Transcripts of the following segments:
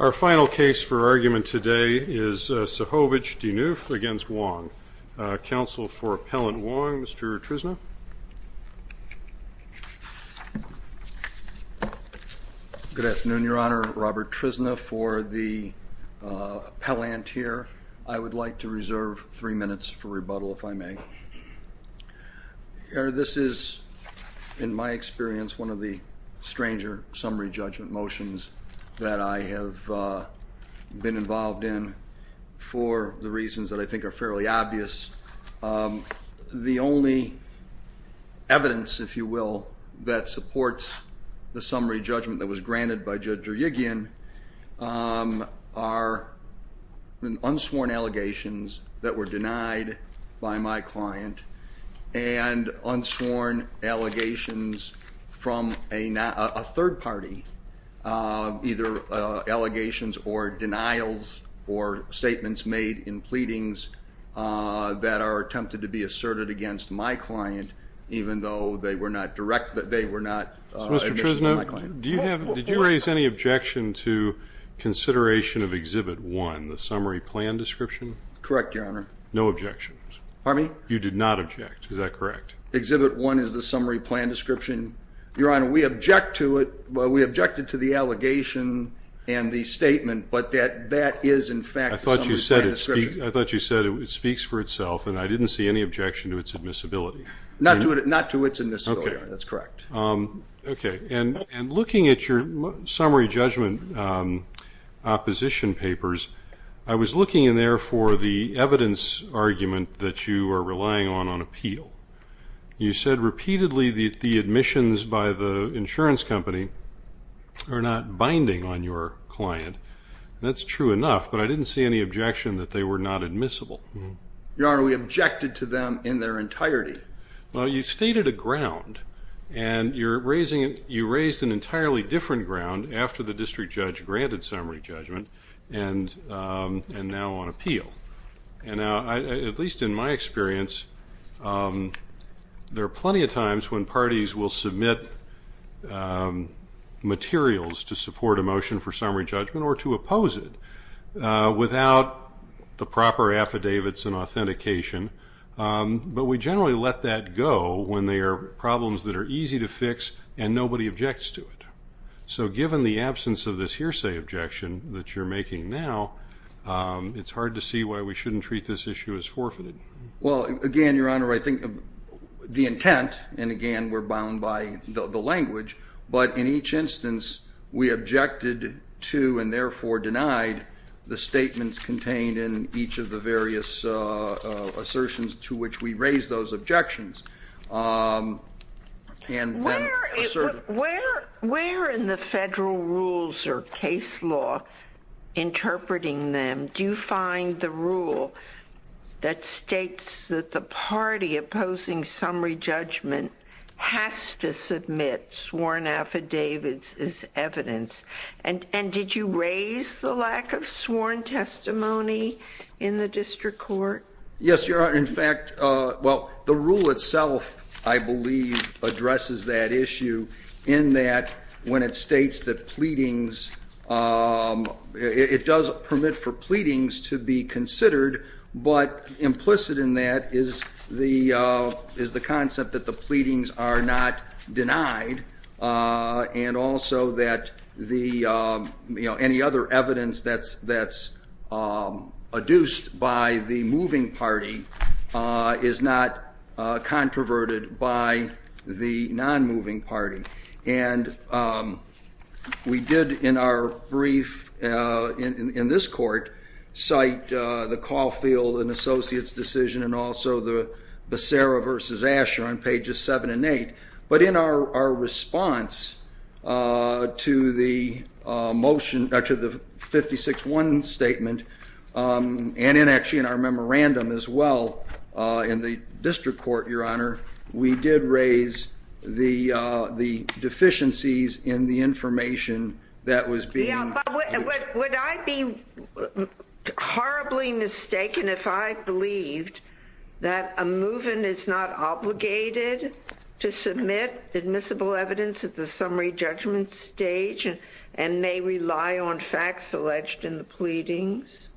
Our final case for argument today is Cehovic-Dixneuf v. Wong. Counsel for Appellant Wong, Mr. Trisna. Good afternoon, Your Honor. Robert Trisna for the appellant here. I would like to reserve three minutes for rebuttal, if I may. Your Honor, this is, in my experience, one of the stranger summary judgment motions that I have been involved in for the reasons that I think are fairly obvious. The only evidence, if you will, that supports the summary judgment that was granted by Judge Drugian are unsworn allegations that were denied by my client and unsworn allegations from a third party, either allegations or denials or statements made in pleadings that are attempted to be asserted against my client, even though they were not direct, they were not. Mr. Trisna, do you have, did you raise any objection to consideration of Exhibit 1, the summary plan description? Correct, Your Honor. No objections? Pardon me? You did not object, is that correct? Exhibit 1 is the summary plan description. Your Honor, we object to it, we objected to the allegation and the statement, but that is, in fact, the summary plan description. I thought you said it speaks for itself, and I didn't see any objection to its admissibility. Not to its admissibility, Your Honor, that's correct. Okay, and looking at your summary judgment opposition papers, I was looking in there for the evidence argument that you are relying on on appeal. You said repeatedly that the admissions by the insurance company are not binding on your client, and that's true enough, but I didn't see any objection that they were not admissible. Your Honor, we objected to them in their entirety. Well, you stated a ground, and you raised an entirely different ground after the district judge granted summary judgment and now on appeal. And now, at least in my experience, there are plenty of times when parties will submit materials to support a motion for summary judgment or to oppose it without the proper affidavits and authentication, but we generally let that go when they are problems that are easy to fix and nobody objects to it. So given the absence of this hearsay objection that you're making now, it's hard to see why we shouldn't treat this issue as forfeited. Well, again, Your Honor, I think the intent, and again, we're bound by the language, but in each instance, we objected to and therefore denied the statements contained in each of the various assertions to which we raised those objections. Where in the federal rules or case law interpreting them do you find the rule that states that the party opposing summary judgment has to submit sworn affidavits as evidence? And did you raise the lack of sworn testimony in the district court? Yes, Your Honor. In fact, well, the rule itself, I believe, addresses that issue in that when it states that pleadings, it does permit for pleadings to be considered, but implicit in that is the concept that the pleadings are not denied and also that any other evidence that's adduced by the moving party is not controverted by the non-moving party. And we did in our brief in this court cite the Caulfield and Associates decision and also the Becerra versus Asher on pages 7 and 8, but in our response to the 56-1 statement and actually in our memorandum as well in the district court, Your Honor, we did raise the deficiencies in the information that was being... Yeah, but would I be horribly mistaken if I believed that a move-in is not obligated to submit admissible evidence at the summary judgment stage and may rely on facts alleged in the pleadings?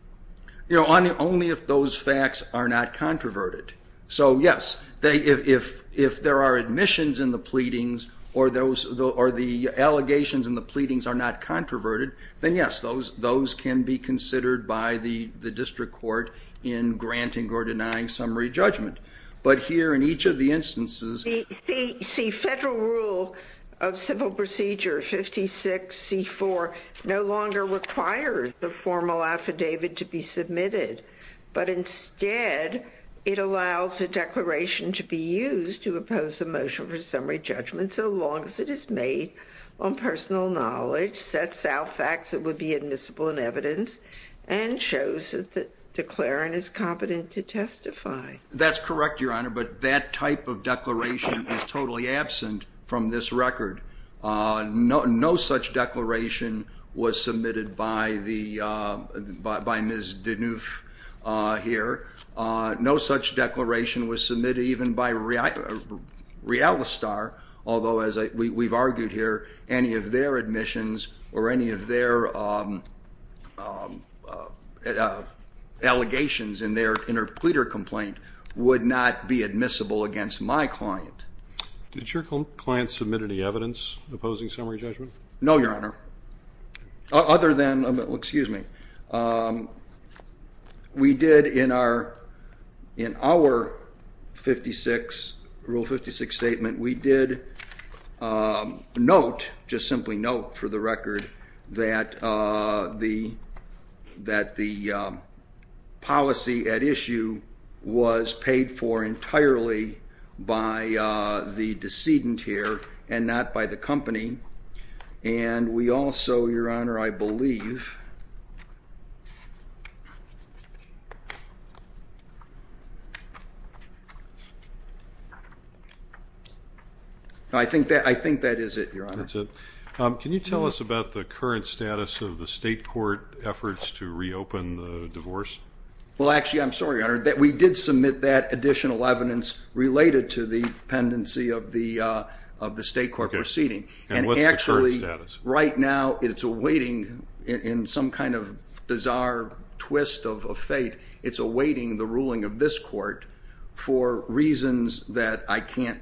Only if those facts are not controverted. So yes, if there are admissions in the pleadings or the allegations in the pleadings are not controverted, then yes, those can be considered by the district court in granting or denying summary judgment. But here in each of the instances... The federal rule of civil procedure 56-C-4 no longer requires the formal affidavit to be submitted, but instead it allows a declaration to be used to oppose a motion for summary judgment so long as it is made on personal knowledge, sets out facts that would be admissible in evidence, and shows that the declarant is competent to testify. That's correct, Your Honor, but that type of declaration is totally absent from this record. No such declaration was submitted by Ms. Deneuve here. No such declaration was submitted even by Realistar, although, as we've argued here, any of their admissions or any of their allegations in their pleader complaint would not be admissible against my client. Did your client submit any evidence opposing summary judgment? No, Your Honor. We did in our Rule 56 statement, we did note, just simply note for the record, that the policy at issue was paid for entirely by the decedent here and not by the company. And we also, Your Honor, I believe... I think that is it, Your Honor. That's it. Can you tell us about the current status of the state court efforts to reopen the divorce? Well, actually, I'm sorry, Your Honor, that we did submit that additional evidence related to the pendency of the state court proceeding. And what's the current status? And actually, right now, it's awaiting, in some kind of bizarre twist of fate, it's awaiting the ruling of this court for reasons that I can't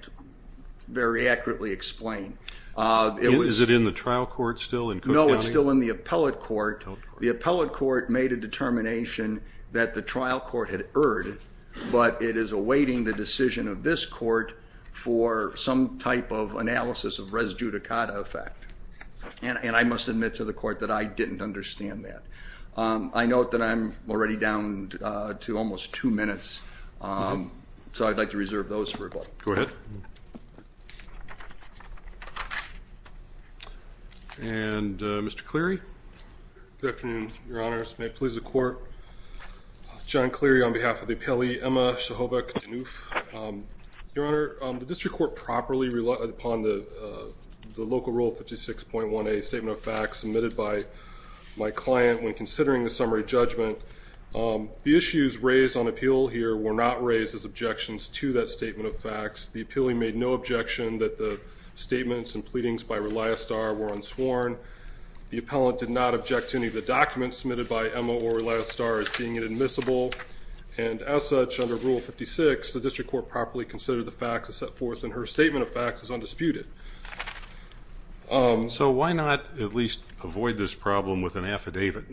very accurately explain. Is it in the trial court still in Cook County? No, it's still in the appellate court. The appellate court made a determination that the trial court had erred, but it is awaiting the decision of this court for some type of analysis of res judicata effect. And I must admit to the court that I didn't understand that. I note that I'm already down to almost two minutes, so I'd like to reserve those for a moment. Go ahead. And Mr. Cleary? Good afternoon, Your Honors. May it please the court. John Cleary on behalf of the appellee, Emma Shehobak-Danuff. Your Honor, the district court properly relied upon the local rule 56.1A statement of facts submitted by my client when considering the summary judgment. The issues raised on appeal here were not raised as objections to that statement of facts. The appellee made no objection that the statements and pleadings by Reliastar were unsworn. The appellant did not object to any of the documents submitted by Emma or Reliastar as being inadmissible. And as such, under Rule 56, the district court properly considered the facts it set forth, and her statement of facts is undisputed. So why not at least avoid this problem with an affidavit?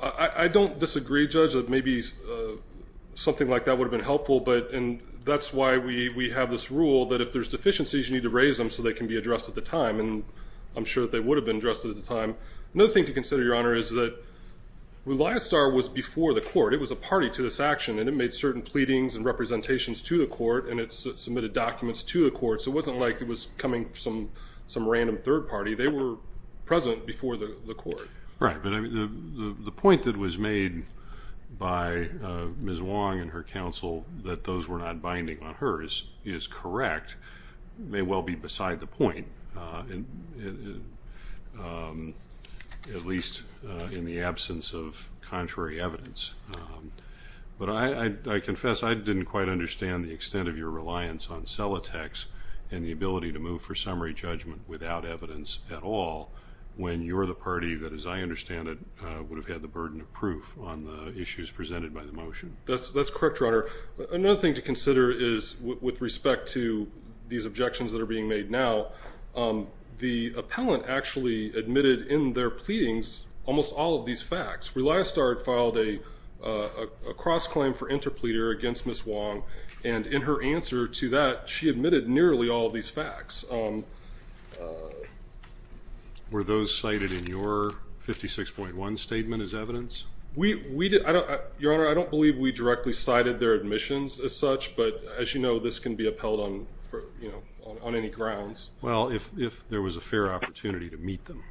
I don't disagree, Judge, that maybe something like that would have been helpful, and that's why we have this rule that if there's deficiencies, you need to raise them so they can be addressed at the time. And I'm sure that they would have been addressed at the time. Another thing to consider, Your Honor, is that Reliastar was before the court. It was a party to this action, and it made certain pleadings and representations to the court, and it submitted documents to the court. So it wasn't like it was coming from some random third party. They were present before the court. Right. But the point that was made by Ms. Wong and her counsel, that those were not binding on hers, is correct. It may well be beside the point, at least in the absence of contrary evidence. But I confess I didn't quite understand the extent of your reliance on Celotex and the ability to move for summary judgment without evidence at all when you're the party that, as I understand it, would have had the burden of proof on the issues presented by the motion. That's correct, Your Honor. Another thing to consider is with respect to these objections that are being made now, the appellant actually admitted in their pleadings almost all of these facts. Reliastar had filed a cross-claim for interpleader against Ms. Wong, and in her answer to that she admitted nearly all of these facts. Were those cited in your 56.1 statement as evidence? Your Honor, I don't believe we directly cited their admissions as such, but as you know this can be upheld on any grounds. Well, if there was a fair opportunity to meet them.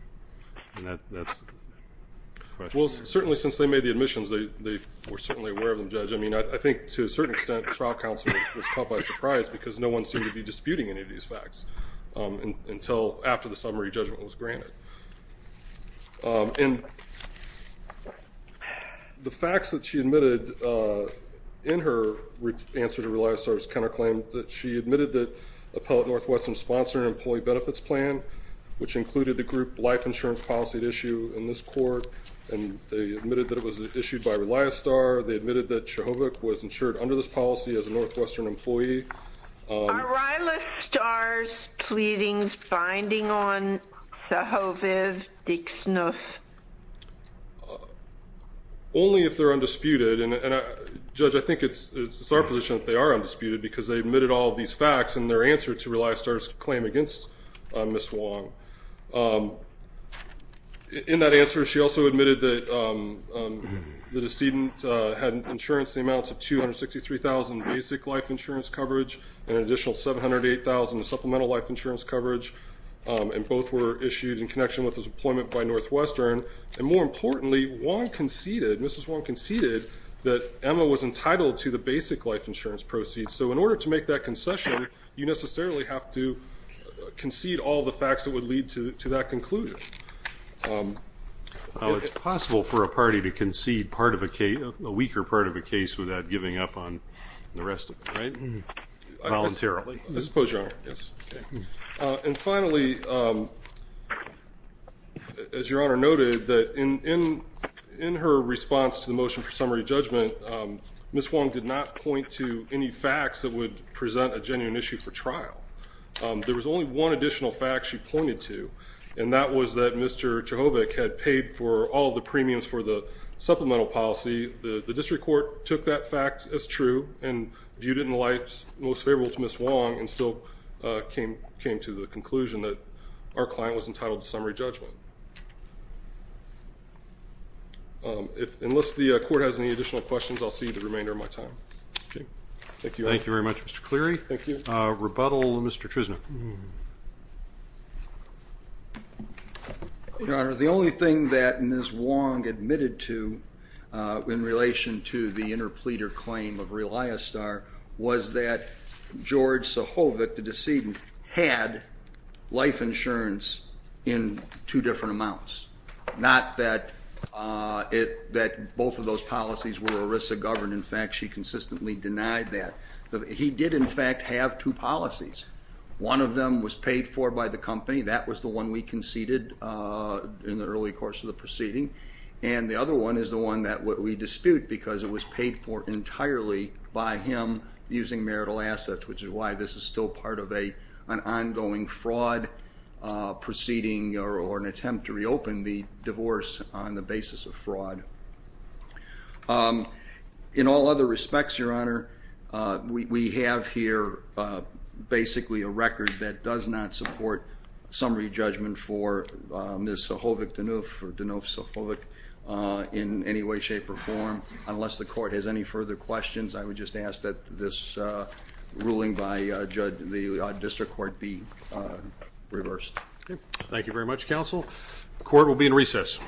Well, certainly since they made the admissions they were certainly aware of them, Judge. I mean, I think to a certain extent trial counsel was caught by surprise because no one seemed to be disputing any of these facts until after the summary judgment was granted. And the facts that she admitted in her answer to Reliastar's counterclaim, that she admitted that Appellant Northwestern sponsored an employee benefits plan, which included the group life insurance policy at issue in this court, and they admitted that it was issued by Reliastar. They admitted that Chekhovik was insured under this policy as a Northwestern employee. Are Rialastar's pleadings binding on Chekhovik Dixnuff? Only if they're undisputed. And, Judge, I think it's our position that they are undisputed because they admitted all of these facts in their answer to Reliastar's claim against Ms. Wong. In that answer she also admitted that the decedent had insurance in the amounts of $263,000 in basic life insurance coverage and an additional $708,000 in supplemental life insurance coverage, and both were issued in connection with his employment by Northwestern. And more importantly, Wong conceded, Mrs. Wong conceded, that Emma was entitled to the basic life insurance proceeds. So in order to make that concession, you necessarily have to concede all the facts that would lead to that conclusion. It's possible for a party to concede a weaker part of a case without giving up on the rest of it, right? Voluntarily. I suppose, Your Honor. And finally, as Your Honor noted, that in her response to the motion for summary judgment, Ms. Wong did not point to any facts that would present a genuine issue for trial. There was only one additional fact she pointed to, and that was that Mr. Chehovik had paid for all the premiums for the supplemental policy. The district court took that fact as true and viewed it in the light most favorable to Ms. Wong and still came to the conclusion that our client was entitled to summary judgment. Unless the court has any additional questions, I'll see you the remainder of my time. Thank you. Thank you very much, Mr. Cleary. Thank you. Rebuttal, Mr. Trisna. Your Honor, the only thing that Ms. Wong admitted to in relation to the interpleader claim of Reliostar was that George Chehovik, the decedent, had life insurance in two different amounts. Not that both of those policies were ERISA governed. In fact, she consistently denied that. He did, in fact, have two policies. One of them was paid for by the company. That was the one we conceded in the early course of the proceeding. And the other one is the one that we dispute because it was paid for entirely by him using marital assets, which is why this is still part of an ongoing fraud proceeding or an attempt to reopen the divorce on the basis of fraud. In all other respects, Your Honor, we have here basically a record that does not support summary judgment for Ms. Chehovik-Dunoof or Dunoof-Chehovik in any way, shape, or form. Unless the court has any further questions, I would just ask that this ruling by the district court be reversed. Thank you very much, counsel. The court will be in recess.